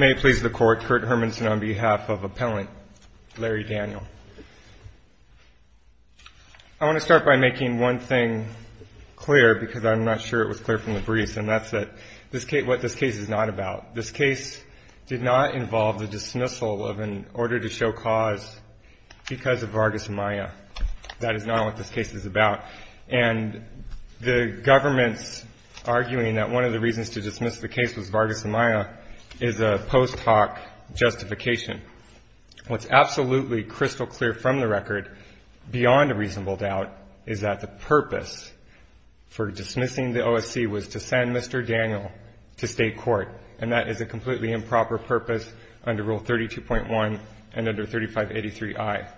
I want to start by making one thing clear, because I'm not sure it was clear from the briefs, and that's that what this case is not about. This case did not involve the dismissal of an order to show cause because of Vargas Maya. That is not what this case is about. And the government's arguing that one of the reasons to dismiss the case was Vargas Maya is a post hoc justification. What's absolutely crystal clear from the record, beyond a reasonable doubt, is that the purpose for dismissing the OSC was to send Mr. Daniel to state court, and that is a completely improper purpose under Rule 32.1 and under 3583i.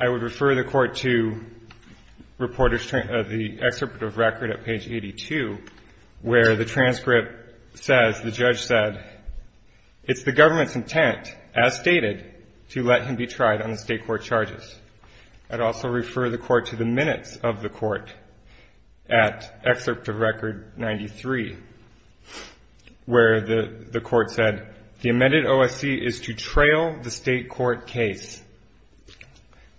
I would refer the Court to the excerpt of record at page 82, where the transcript says, the judge said, it's the government's intent, as stated, to let him be tried on the state court charges. I'd also refer the Court to the minutes of the Court at excerpt of record 93, where the Court said, the amended OSC is to trail the state court case.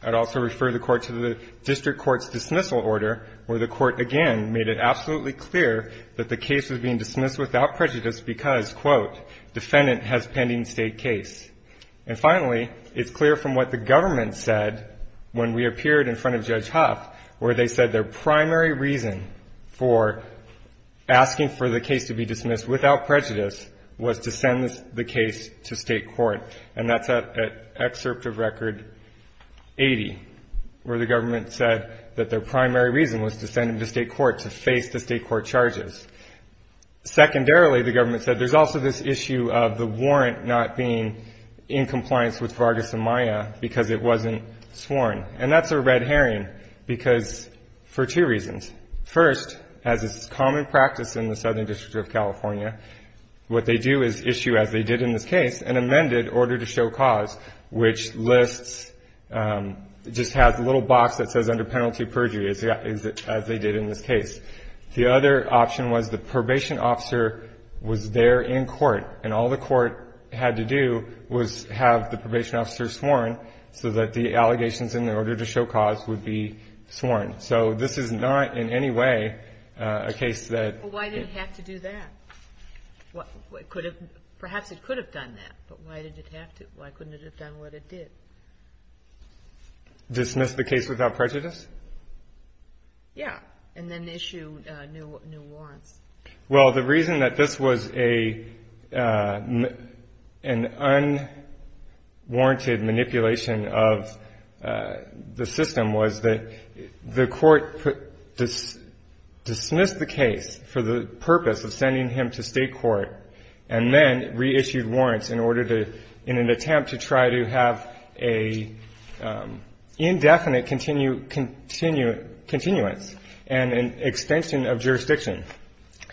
I'd also refer the Court to the district court's dismissal order, where the Court again made it absolutely clear that the case was being dismissed without prejudice because, quote, defendant has pending state case. And finally, it's clear from what the government said when we appeared in front of Judge Huff, where they said their primary reason for asking for the case to be dismissed without prejudice was to send the case to state court. And that's at excerpt of record 80, where the government said that their primary reason was to send him to state court to face the state court charges. Secondarily, the government said, there's also this issue of the warrant not being in place. And that's a red herring because for two reasons. First, as is common practice in the Southern District of California, what they do is issue, as they did in this case, an amended order to show cause, which lists, just has a little box that says under penalty perjury, as they did in this case. The other option was the probation officer was there in court, and all the court had to do was have the probation officer sworn so that the show cause would be sworn. So this is not in any way a case that Why did it have to do that? Perhaps it could have done that, but why did it have to? Why couldn't it have done what it did? Dismiss the case without prejudice? Yeah. And then issue new warrants. Well, the reason that this was an unwarranted manipulation of the Supreme Court's system was that the court dismissed the case for the purpose of sending him to state court and then reissued warrants in order to, in an attempt to try to have a indefinite continuance and an extension of jurisdiction.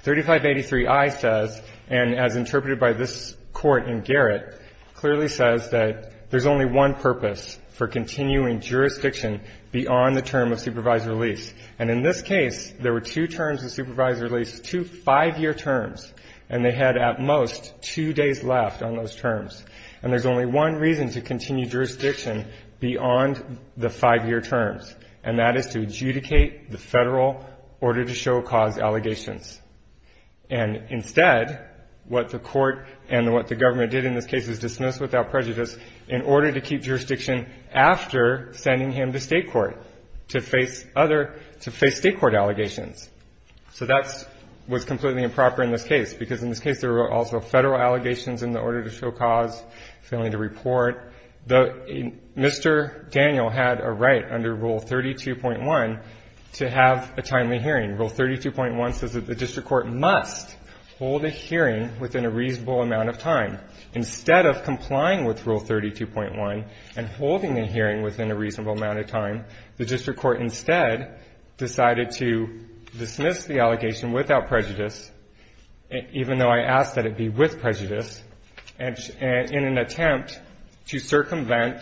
3583i says, and as interpreted by this court in Garrett, clearly says that there's only one purpose for continuing jurisdiction beyond the term of supervised release. And in this case, there were two terms of supervised release, two five-year terms, and they had at most two days left on those terms. And there's only one reason to continue jurisdiction beyond the five-year terms, and that is to adjudicate the Federal order to show cause allegations. And instead, what the court and what the government did in this case is dismiss without prejudice in order to keep jurisdiction after sending him to state court to face other, to face state court allegations. So that was completely improper in this case, because in this case, there were also Federal allegations in the order to show cause, failing to report. Mr. Daniel had a right under Rule 32.1 to have a timely hearing. Rule 32.1 says that the district court must hold a hearing within a reasonable amount of time. And instead of complying with Rule 32.1 and holding a hearing within a reasonable amount of time, the district court instead decided to dismiss the allegation without prejudice, even though I asked that it be with prejudice, and in an attempt to circumvent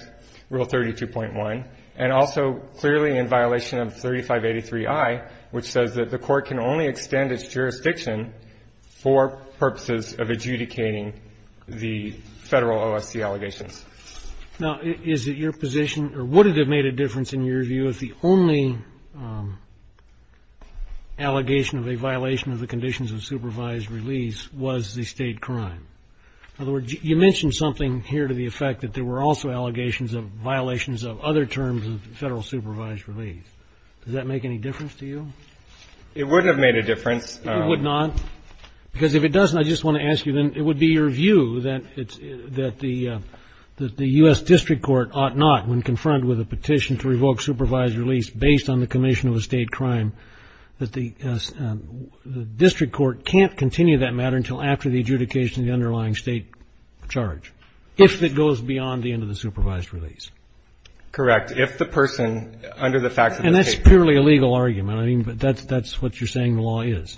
Rule 32.1, and also clearly in violation of 3583i, which says that the court can only extend its jurisdiction for purposes of adjudicating the Federal OSC allegations. Now, is it your position, or would it have made a difference in your view, if the only allegation of a violation of the conditions of supervised release was the state crime? In other words, you mentioned something here to the effect that there were also allegations of violations of other terms of Federal supervised release. Does that make any difference to you? It wouldn't have made a difference. It would not? Because if it doesn't, I just want to ask you then, it would be your view that the U.S. district court ought not, when confronted with a petition to revoke supervised release based on the commission of a state crime, that the district court can't continue that matter until after the adjudication of the underlying state charge, if it goes beyond the end of the supervised release? Correct. If the person, under the facts of the case ---- And that's purely a legal argument. I mean, that's what you're saying the law is.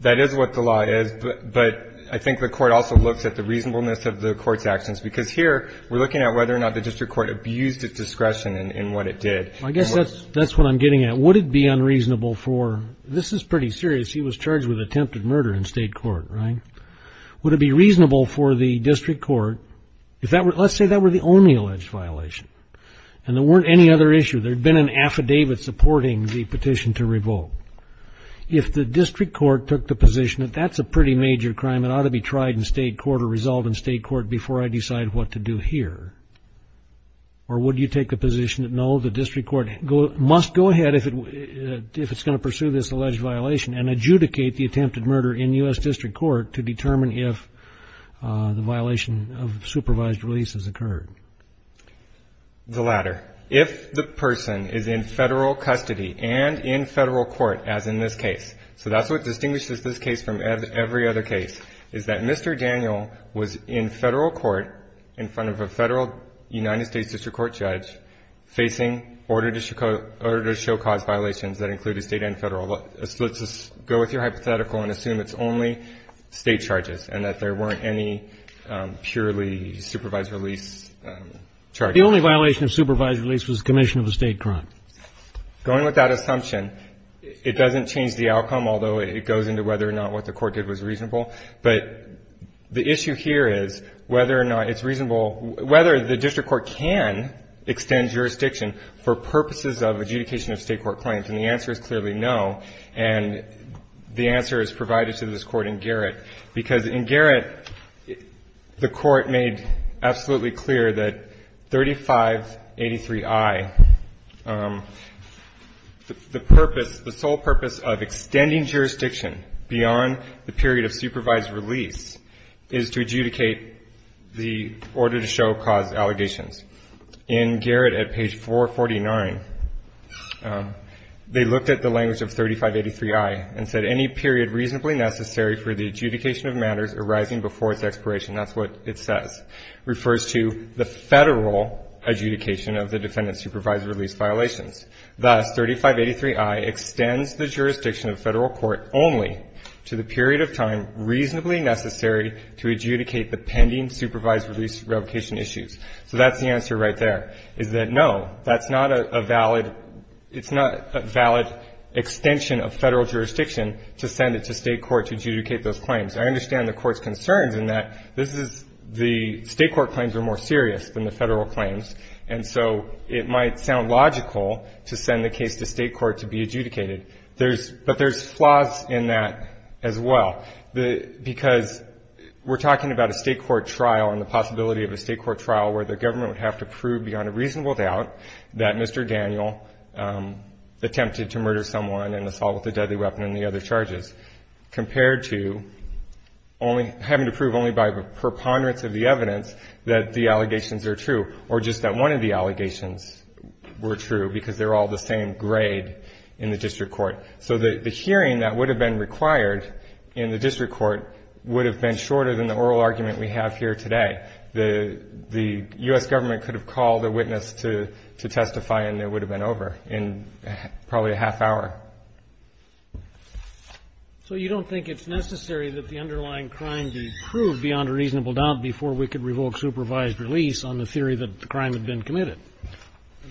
That is what the law is, but I think the court also looks at the reasonableness of the court's actions. Because here, we're looking at whether or not the district court abused its discretion in what it did. I guess that's what I'm getting at. Would it be unreasonable for ---- this is pretty serious. He was charged with attempted murder in state court, right? Would it be reasonable for the district court, if that were ---- let's say that were the only alleged violation, and there weren't any other issues, there'd been an affidavit supporting the petition to revoke. If the district court took the position that that's a pretty major crime, it ought to be tried in state court or resolved in state court before I decide what to do here. Or would you take the position that, no, the district court must go ahead if it's going to pursue this alleged violation and adjudicate the attempted murder in U.S. district court to determine if the violation of supervised release has occurred? The latter. If the person is in federal custody and in federal court, as in this case, so that's what distinguishes this case from every other case, is that Mr. Daniel was in federal court in front of a federal United States district court judge facing order to show cause violations that included state and federal. Let's just go with your hypothetical and assume it's only state charges and that there weren't any purely supervised release charges. The only violation of supervised release was commission of a state crime. Going with that assumption, it doesn't change the outcome, although it goes into whether or not what the court did was reasonable. But the issue here is whether or not it's reasonable, whether the district court can extend jurisdiction for purposes of adjudication of state court claims. And the answer is clearly no. And the answer is provided to this court in Garrett, because in Garrett, the court made absolutely clear that 3583I, the purpose, the sole purpose of extending jurisdiction beyond the period of supervised release is to adjudicate the order to show cause allegations. In Garrett at page 449, they looked at the language of 3583I and said any period reasonably necessary for the adjudication of matters arising before its expiration, that's what it says, refers to the federal adjudication of the defendant's supervised release violations. Thus, 3583I extends the jurisdiction of federal court only to the period of time reasonably necessary to adjudicate the pending supervised release revocation issues. So that's the answer right there, is that no, that's not a valid, it's not a valid extension of federal jurisdiction to send it to state court to adjudicate those claims. I understand the court's concerns in that this is, the state court claims are more serious than the federal claims, and so it might sound logical to send the case to state court to be adjudicated. There's, but there's flaws in that as well. The, because we're talking about a state court trial and the possibility of a state court trial where the government would have to prove beyond a reasonable doubt that Mr. Daniel attempted to murder someone and assault with a deadly weapon and the other charges, compared to only having to prove only by preponderance of the evidence that the allegations are true, or just that one of the allegations were true because they're all the same grade in the district court. So the hearing that would have been required in the district court would have been shorter than the oral argument we have here today. The U.S. government could have called a witness to testify and it would have been over in probably a half hour. So you don't think it's necessary that the underlying crime be proved beyond a reasonable doubt before we could revoke supervised release on the theory that the crime had been committed?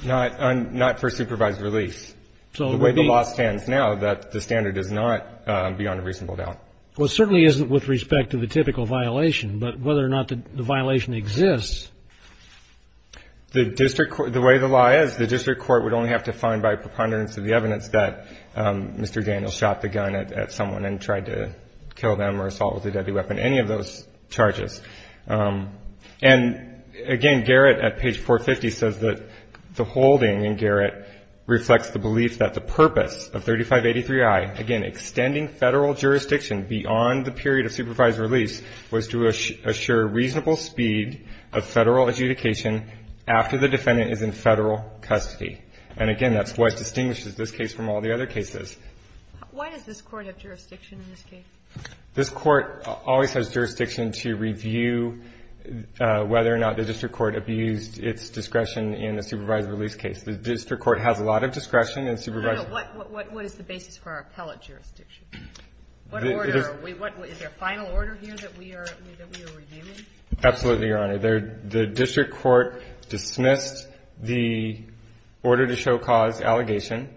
Not for supervised release. The way the law stands now, that the standard is not beyond a reasonable doubt. Well, it certainly isn't with respect to the typical violation, but whether or not the violation exists. The district court, the way the law is, the district court would only have to find by preponderance of the evidence that Mr. Daniel shot the gun at someone and tried to kill them or assault with a deadly weapon, any of those charges. And again, Garrett at page 450 says that the holding in Garrett reflects the belief that the purpose of 3583I, again, extending Federal jurisdiction beyond the period of supervised release, was to assure reasonable speed of Federal adjudication after the defendant is in Federal custody. And again, that's what distinguishes this case from all the other cases. Why does this court have jurisdiction in this case? This court always has jurisdiction to review whether or not the district court abused its discretion in the supervised release case. The district court has a lot of discretion in supervised release. What is the basis for our appellate jurisdiction? Is there a final order here that we are reviewing? Absolutely, Your Honor. The district court dismissed the order to show cause allegation,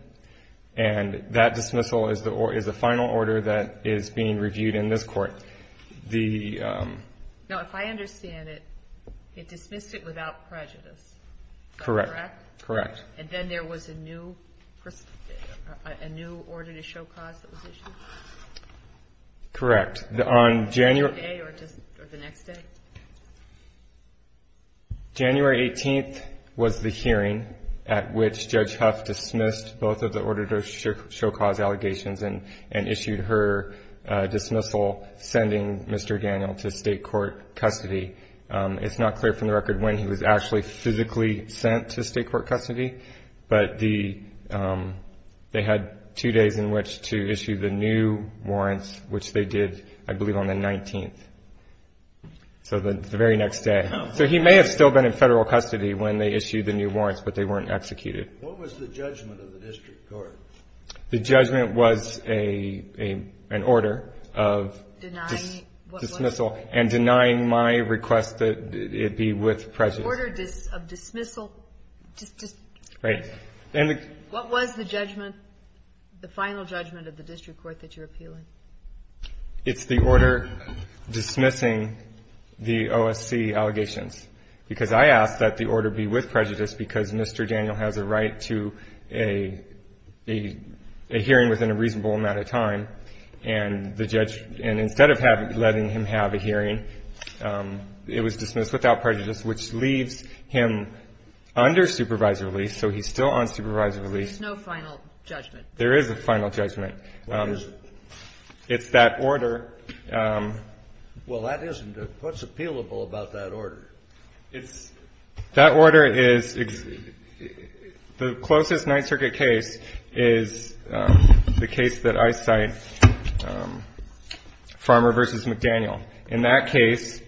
and that dismissal is the final order that is being reviewed in this court. Now, if I understand it, it dismissed it without prejudice. Correct. Correct. And then there was a new order to show cause that was issued? Correct. On January 18th was the hearing at which Judge Huff dismissed both of the order to show cause allegations and issued her dismissal, sending Mr. Daniel to State court custody. It's not clear from the record when he was actually physically sent to State court custody, but they had two days in which to issue the new warrants, which they did, I believe, on the 19th, so the very next day. So he may have still been in Federal custody when they issued the new warrants, but they weren't executed. What was the judgment of the district court? The judgment was an order of dismissal and denying my request that it be with prejudice. An order of dismissal? Right. What was the judgment, the final judgment of the district court that you're appealing? It's the order dismissing the OSC allegations, because I asked that the order be with prejudice because Mr. Daniel has a right to a hearing within a reasonable amount of time, and the judge, and instead of letting him have a hearing, it was dismissed without prejudice, which leaves him under supervisory release. So he's still on supervisory release. There's no final judgment. There is a final judgment. What is it? It's that order. Well, that isn't. What's appealable about that order? It's that order is the closest Ninth Circuit case is the case that I cite, Farmer v. McDaniel. In that case,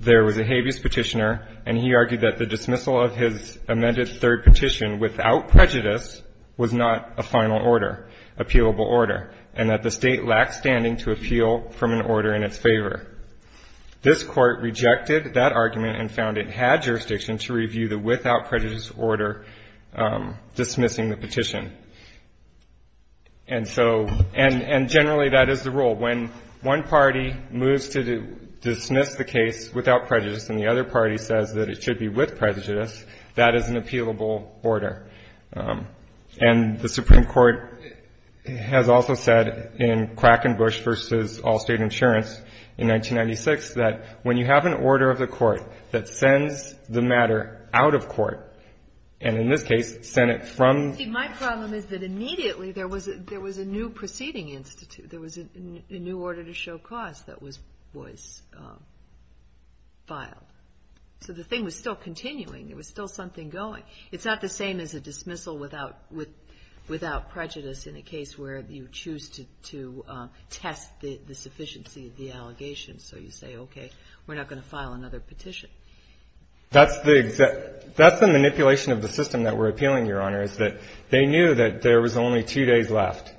there was a habeas petitioner, and he argued that the dismissal of his amended third petition without prejudice was not a final order, appealable order, and that the State lacked standing to appeal from an order in its favor. This Court rejected that argument and found it had jurisdiction to review the without prejudice order dismissing the petition. And so, and generally that is the rule. When one party moves to dismiss the case without prejudice and the other party says that it should be with prejudice, that is an appealable order. And the Supreme Court has also said in Krackenbusch v. Allstate Insurance in 1996 that when you have an order of the court that sends the matter out of court, and in this case, sent it from the court. There was a new order to show cause that was filed. So the thing was still continuing. There was still something going. It's not the same as a dismissal without prejudice in a case where you choose to test the sufficiency of the allegations. So you say, okay, we're not going to file another petition. That's the manipulation of the system that we're appealing, Your Honor, is that they knew that there was only two days left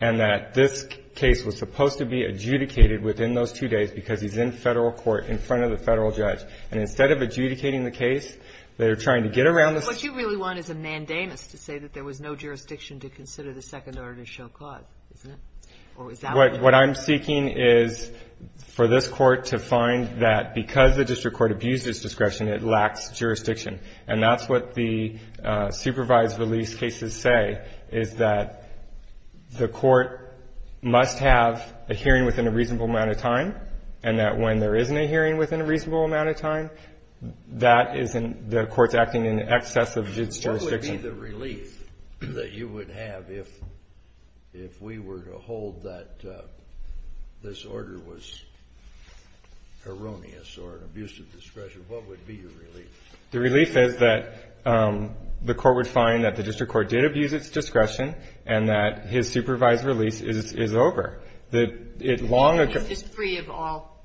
and that this case was supposed to be adjudicated within those two days because he's in Federal court in front of the Federal judge. And instead of adjudicating the case, they're trying to get around the system. What you really want is a mandamus to say that there was no jurisdiction to consider the second order to show cause, isn't it? What I'm seeking is for this Court to find that because the district court abused its discretion, it lacks jurisdiction. And that's what the supervised release cases say, is that the court must have a hearing within a reasonable amount of time and that when there isn't a hearing within a reasonable amount of time, that isn't the court's acting in excess of its jurisdiction. What would be the relief that you would have if we were to hold that this order was erroneous or an abuse of discretion? What would be your relief? The relief is that the court would find that the district court did abuse its discretion and that his supervised release is over. He's just free of all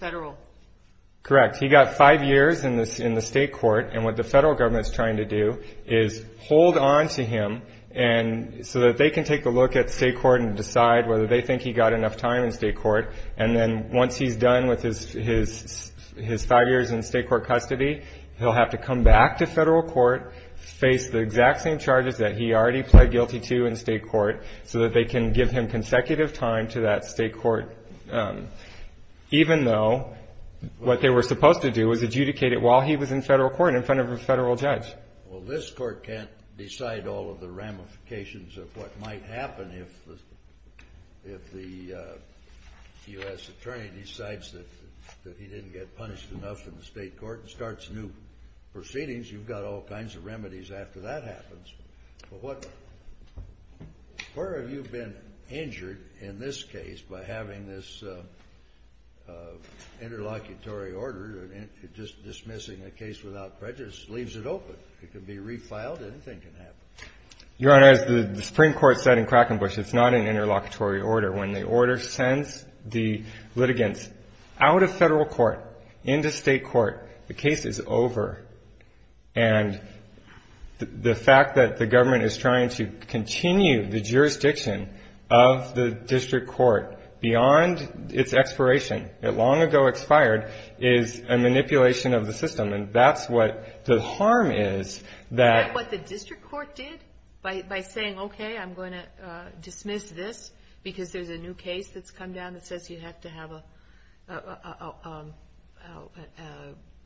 Federal. Correct. He got five years in the State court. And what the Federal government is trying to do is hold on to him so that they can take a look at State court and decide whether they think he got enough time in State court. And then once he's done with his five years in State court custody, he'll have to come back to Federal court, face the exact same charges that he already pled guilty to in State court so that they can give him consecutive time to that State court, even though what they were supposed to do was adjudicate it while he was in Federal court in front of a Federal judge. Well, this Court can't decide all of the ramifications of what might happen if the U.S. attorney decides that he didn't get punished enough in the State court and starts new proceedings. You've got all kinds of remedies after that happens. But what – where have you been injured in this case by having this interlocutory order and just dismissing the case without prejudice? Leaves it open. It can be refiled. Anything can happen. Your Honor, as the Supreme Court said in Krakenbusch, it's not an interlocutory order. When the order sends the litigants out of Federal court into State court, the case is over. And the fact that the government is trying to continue the jurisdiction of the district court beyond its expiration, it long ago expired, is a manipulation of the system. And that's what the harm is that – Is that what the district court did by saying, okay, I'm going to dismiss this because there's a new case that's come down that says you have to have a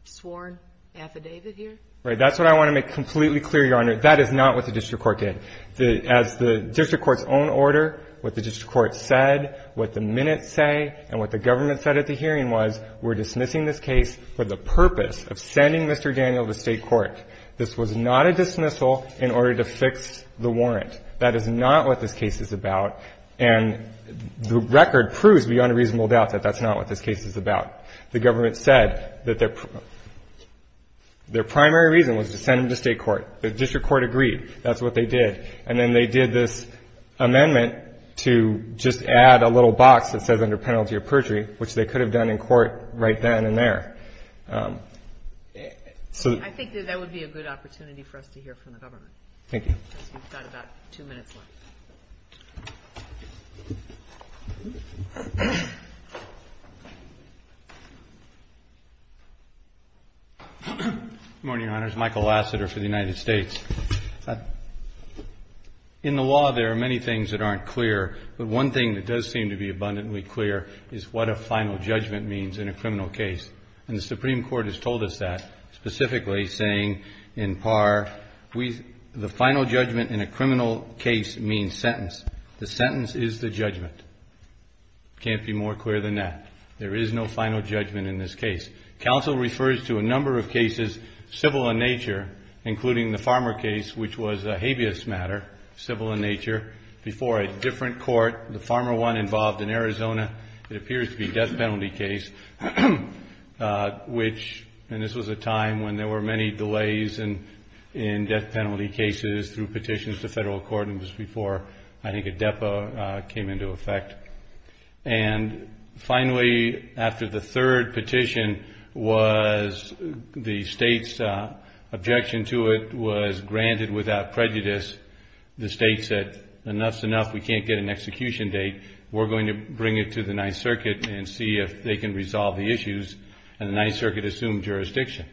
sworn affidavit here? Right. That's what I want to make completely clear, Your Honor. That is not what the district court did. As the district court's own order, what the district court said, what the minutes say, and what the government said at the hearing was, we're dismissing this case for the purpose of sending Mr. Daniel to State court. This was not a dismissal in order to fix the warrant. That is not what this case is about. And the record proves beyond a reasonable doubt that that's not what this case is about. The government said that their primary reason was to send him to State court. The district court agreed. That's what they did. And then they did this amendment to just add a little box that says under penalty of perjury, which they could have done in court right then and there. So the – I think that that would be a good opportunity for us to hear from the government. Thank you. We've got about two minutes left. Good morning, Your Honors. Michael Lassiter for the United States. In the law, there are many things that aren't clear. But one thing that does seem to be abundantly clear is what a final judgment means in a criminal case. And the Supreme Court has told us that, specifically saying in par, we – the final judgment in a criminal case means sentence. The sentence is the judgment. It can't be more clear than that. There is no final judgment in this case. Counsel refers to a number of cases, civil in nature, including the Farmer case, which was a habeas matter, civil in nature, before a different court, the Farmer one, involved in Arizona. It appears to be a death penalty case, which – and this was a time when there were many delays in death penalty cases through petitions to federal court. It was before, I think, a depo came into effect. And finally, after the third petition was – the state's objection to it was granted without prejudice. The state said, enough's enough. We can't get an execution date. We're going to bring it to the Ninth Circuit and see if they can resolve the issues. And the Ninth Circuit assumed jurisdiction.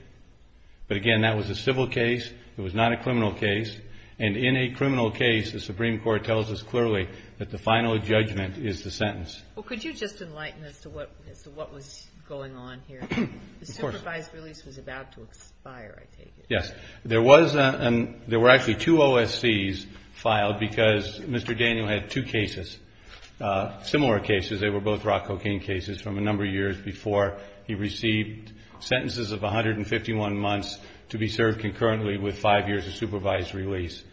But, again, that was a civil case. It was not a criminal case. And in a criminal case, the Supreme Court tells us clearly that the final judgment is the sentence. Well, could you just enlighten us as to what was going on here? Of course. The supervised release was about to expire, I take it. Yes. There was an – there were actually two OSCs filed because Mr. Daniel had two cases, similar cases. They were both rock cocaine cases from a number of years before he received sentences of 151 months to be served concurrently with five years of supervised release.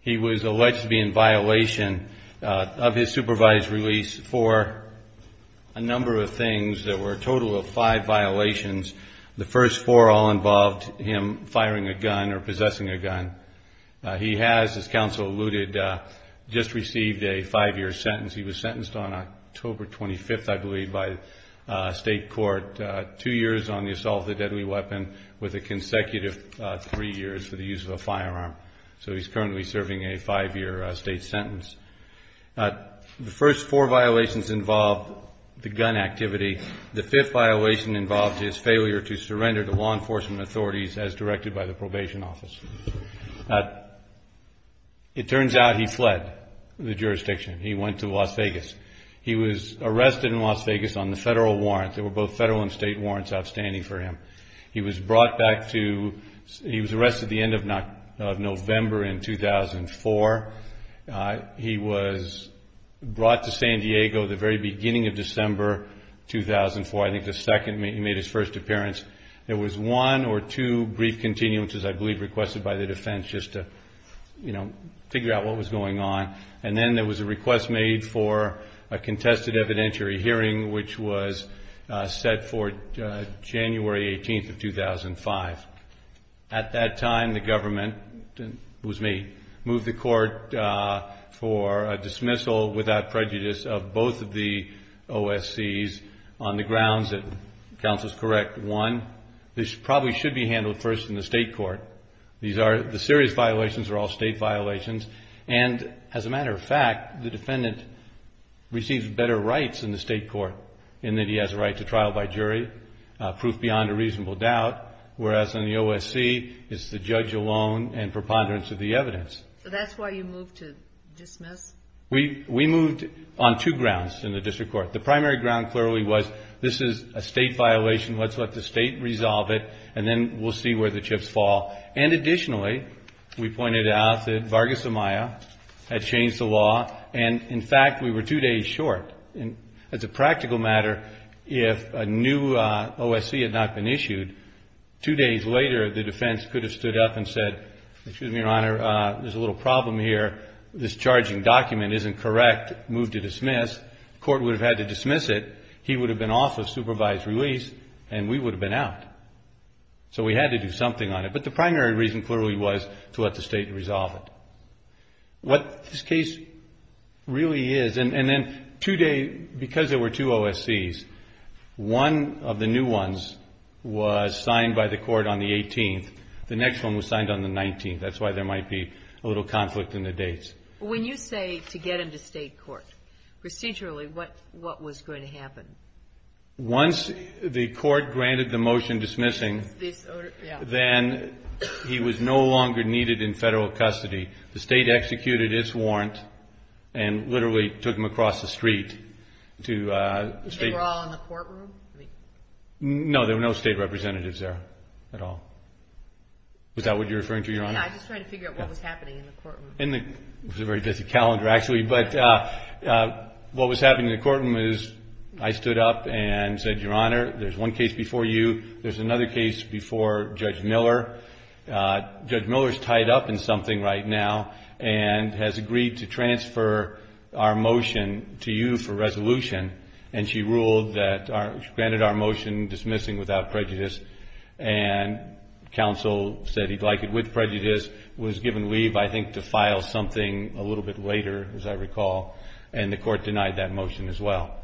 He was alleged to be in violation of his supervised release for a number of things. There were a total of five violations. The first four all involved him firing a gun or possessing a gun. He has, as counsel alluded, just received a five-year sentence. He was sentenced on October 25th, I believe, by state court, two years on the assault of a deadly weapon with a consecutive three years for the use of a firearm. So he's currently serving a five-year state sentence. The first four violations involved the gun activity. The fifth violation involved his failure to surrender to law enforcement authorities as directed by the probation office. It turns out he fled the jurisdiction. He went to Las Vegas. He was arrested in Las Vegas on the federal warrant. There were both federal and state warrants outstanding for him. He was brought back to – he was arrested the end of November in 2004. He was brought to San Diego the very beginning of December 2004. I think the second he made his first appearance. There was one or two brief continuances, I believe, requested by the defense just to, you know, figure out what was going on. And then there was a request made for a contested evidentiary hearing, which was set for January 18th of 2005. At that time, the government – it was me – moved the court for a dismissal without prejudice of both of the OSCs on the grounds that, counsel is correct, one, this probably should be handled first in the state court. These are – the serious violations are all state violations. And as a matter of fact, the defendant receives better rights in the state court in that he has a right to trial by jury, proof beyond a reasonable doubt, whereas in the OSC, it's the judge alone and preponderance of the evidence. So that's why you moved to dismiss? We moved on two grounds in the district court. The primary ground clearly was this is a state violation. Let's let the state resolve it, and then we'll see where the chips fall. And additionally, we pointed out that Vargas Amaya had changed the law. And, in fact, we were two days short. As a practical matter, if a new OSC had not been issued, two days later the defense could have stood up and said, excuse me, Your Honor, there's a little problem here. This charging document isn't correct. Move to dismiss. Court would have had to dismiss it. He would have been off of supervised release, and we would have been out. So we had to do something on it. But the primary reason clearly was to let the state resolve it. What this case really is, and then two days, because there were two OSCs, one of the new ones was signed by the Court on the 18th. The next one was signed on the 19th. That's why there might be a little conflict in the dates. When you say to get him to state court, procedurally, what was going to happen? Once the Court granted the motion dismissing, then he was no longer needed in federal custody. The state executed its warrant and literally took him across the street. They were all in the courtroom? No, there were no state representatives there at all. Is that what you're referring to, Your Honor? I'm just trying to figure out what was happening in the courtroom. It was a very busy calendar, actually. But what was happening in the courtroom is I stood up and said, Your Honor, there's one case before you. There's another case before Judge Miller. Judge Miller is tied up in something right now and has agreed to transfer our motion to you for resolution. And she ruled that she granted our motion dismissing without prejudice, and counsel said he'd like it with prejudice, was given leave, I think, to file something a little bit later, as I recall, and the Court denied that motion as well.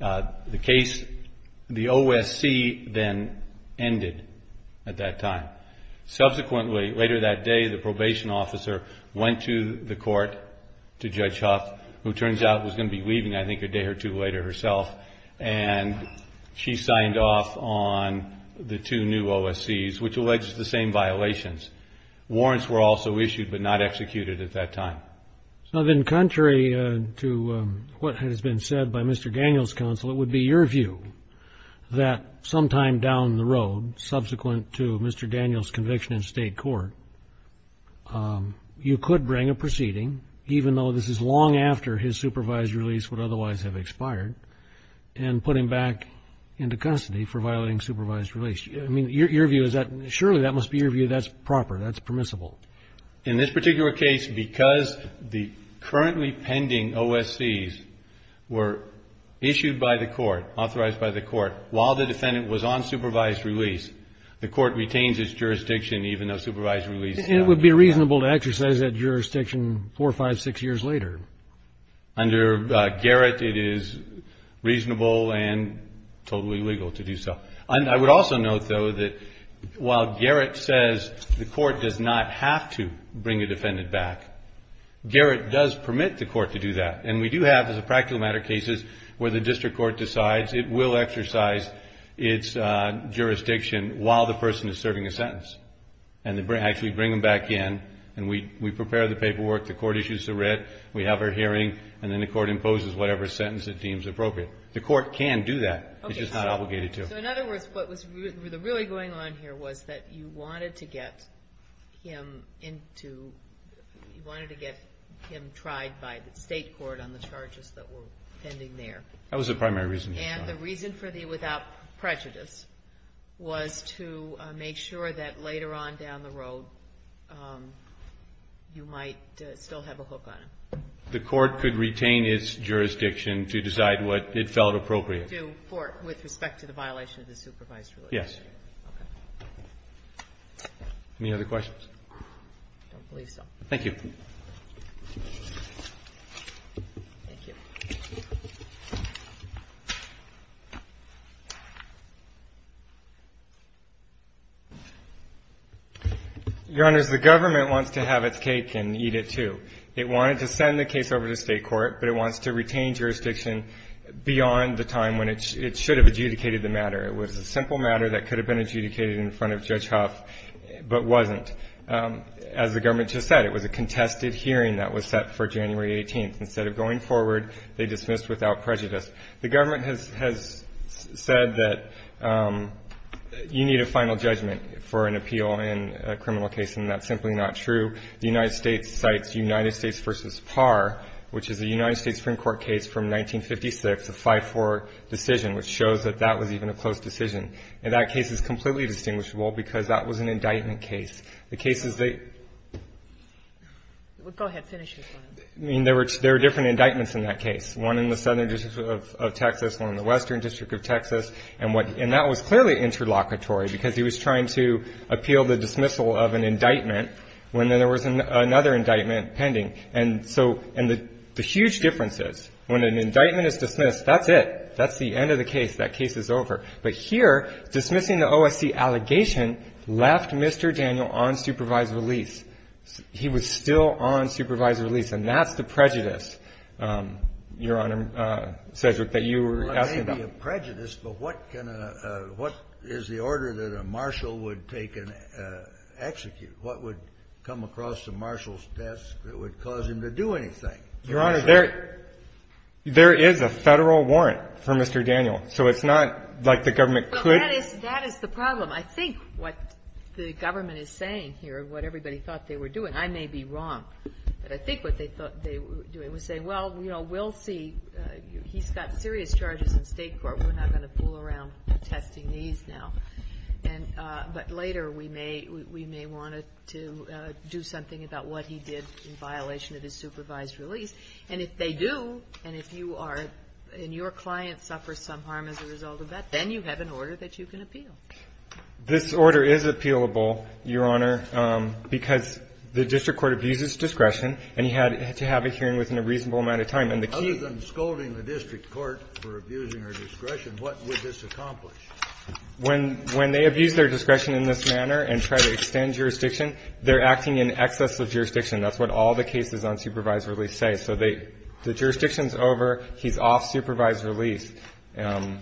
The OSC then ended at that time. Subsequently, later that day, the probation officer went to the Court, to Judge Huff, who turns out was going to be leaving, I think, a day or two later herself, and she signed off on the two new OSCs, which alleged the same violations. Warrants were also issued but not executed at that time. So then contrary to what has been said by Mr. Daniels' counsel, it would be your view that sometime down the road, subsequent to Mr. Daniels' conviction in state court, you could bring a proceeding, even though this is long after his supervised release would otherwise have expired, and put him back into custody for violating supervised release. I mean, your view is that surely that must be your view that's proper, that's permissible. In this particular case, because the currently pending OSCs were issued by the Court, authorized by the Court, while the defendant was on supervised release, the Court retains its jurisdiction even though supervised release is not. It would be reasonable to exercise that jurisdiction four, five, six years later. Under Garrett, it is reasonable and totally legal to do so. I would also note, though, that while Garrett says the Court does not have to bring a defendant back, Garrett does permit the Court to do that. And we do have, as a practical matter, cases where the district court decides it will exercise its jurisdiction while the person is serving a sentence, and actually bring them back in, and we prepare the paperwork, the Court issues the writ, we have our hearing, and then the Court imposes whatever sentence it deems appropriate. The Court can do that. It's just not obligated to. So in other words, what was really going on here was that you wanted to get him into you wanted to get him tried by the State court on the charges that were pending there. That was the primary reason. And the reason for the without prejudice was to make sure that later on down the road, you might still have a hook on him. The Court could retain its jurisdiction to decide what it felt appropriate. And that's what you do with respect to the violation of the supervised release? Yes. Okay. Any other questions? I don't believe so. Thank you. Thank you. Your Honors, the government wants to have its cake and eat it, too. It wanted to send the case over to State court, but it wants to retain jurisdiction beyond the time when it should have adjudicated the matter. It was a simple matter that could have been adjudicated in front of Judge Huff, but wasn't. As the government just said, it was a contested hearing that was set for January 18th. Instead of going forward, they dismissed without prejudice. The government has said that you need a final judgment for an appeal in a criminal case, and that's simply not true. The United States cites United States v. Parr, which is a United States Supreme Court case from 1956, a 5-4 decision, which shows that that was even a close decision. And that case is completely distinguishable because that was an indictment case. The cases they go ahead, finish your point. I mean, there were different indictments in that case, one in the southern district of Texas, one in the western district of Texas. And that was clearly interlocutory because he was trying to appeal the dismissal of an indictment when there was another indictment pending. And so the huge difference is when an indictment is dismissed, that's it. That's the end of the case. That case is over. But here, dismissing the OSC allegation left Mr. Daniel on supervised release. He was still on supervised release, and that's the prejudice, Your Honor, Cedric, that you were asking about. I'm not asking prejudice, but what is the order that a marshal would take and execute? What would come across the marshal's desk that would cause him to do anything? Your Honor, there is a Federal warrant for Mr. Daniel. So it's not like the government could ---- Well, that is the problem. I think what the government is saying here, what everybody thought they were doing ---- I may be wrong, but I think what they thought they were doing was saying, Well, you know, we'll see. He's got serious charges in State court. We're not going to fool around testing these now. But later, we may want to do something about what he did in violation of his supervised release. And if they do, and if you are ---- and your client suffers some harm as a result of that, then you have an order that you can appeal. This order is appealable, Your Honor, because the district court abuses discretion, and he had to have a hearing within a reasonable amount of time. And the key ---- Other than scolding the district court for abusing our discretion, what would this accomplish? When they abuse their discretion in this manner and try to extend jurisdiction, they're acting in excess of jurisdiction. That's what all the cases on supervised release say. So they ---- the jurisdiction is over. He's off supervised release.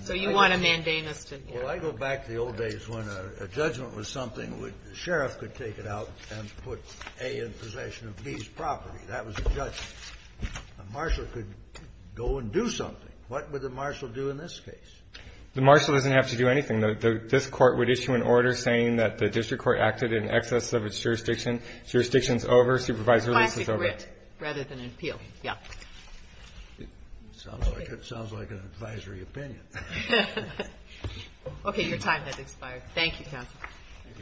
So you want a mandamus to ---- Well, I go back to the old days when a judgment was something which the sheriff could take it out and put A in possession of B's property. That was a judgment. A marshal could go and do something. What would the marshal do in this case? The marshal doesn't have to do anything. This Court would issue an order saying that the district court acted in excess of its jurisdiction. Jurisdiction is over. Supervised release is over. It applies to grit rather than appeal. Yeah. Sounds like an advisory opinion. Okay. Your time has expired. Thank you, counsel.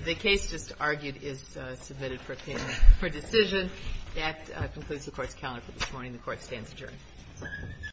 The case just argued is submitted for opinion for decision. That concludes the Court's calendar for this morning. The Court stands adjourned.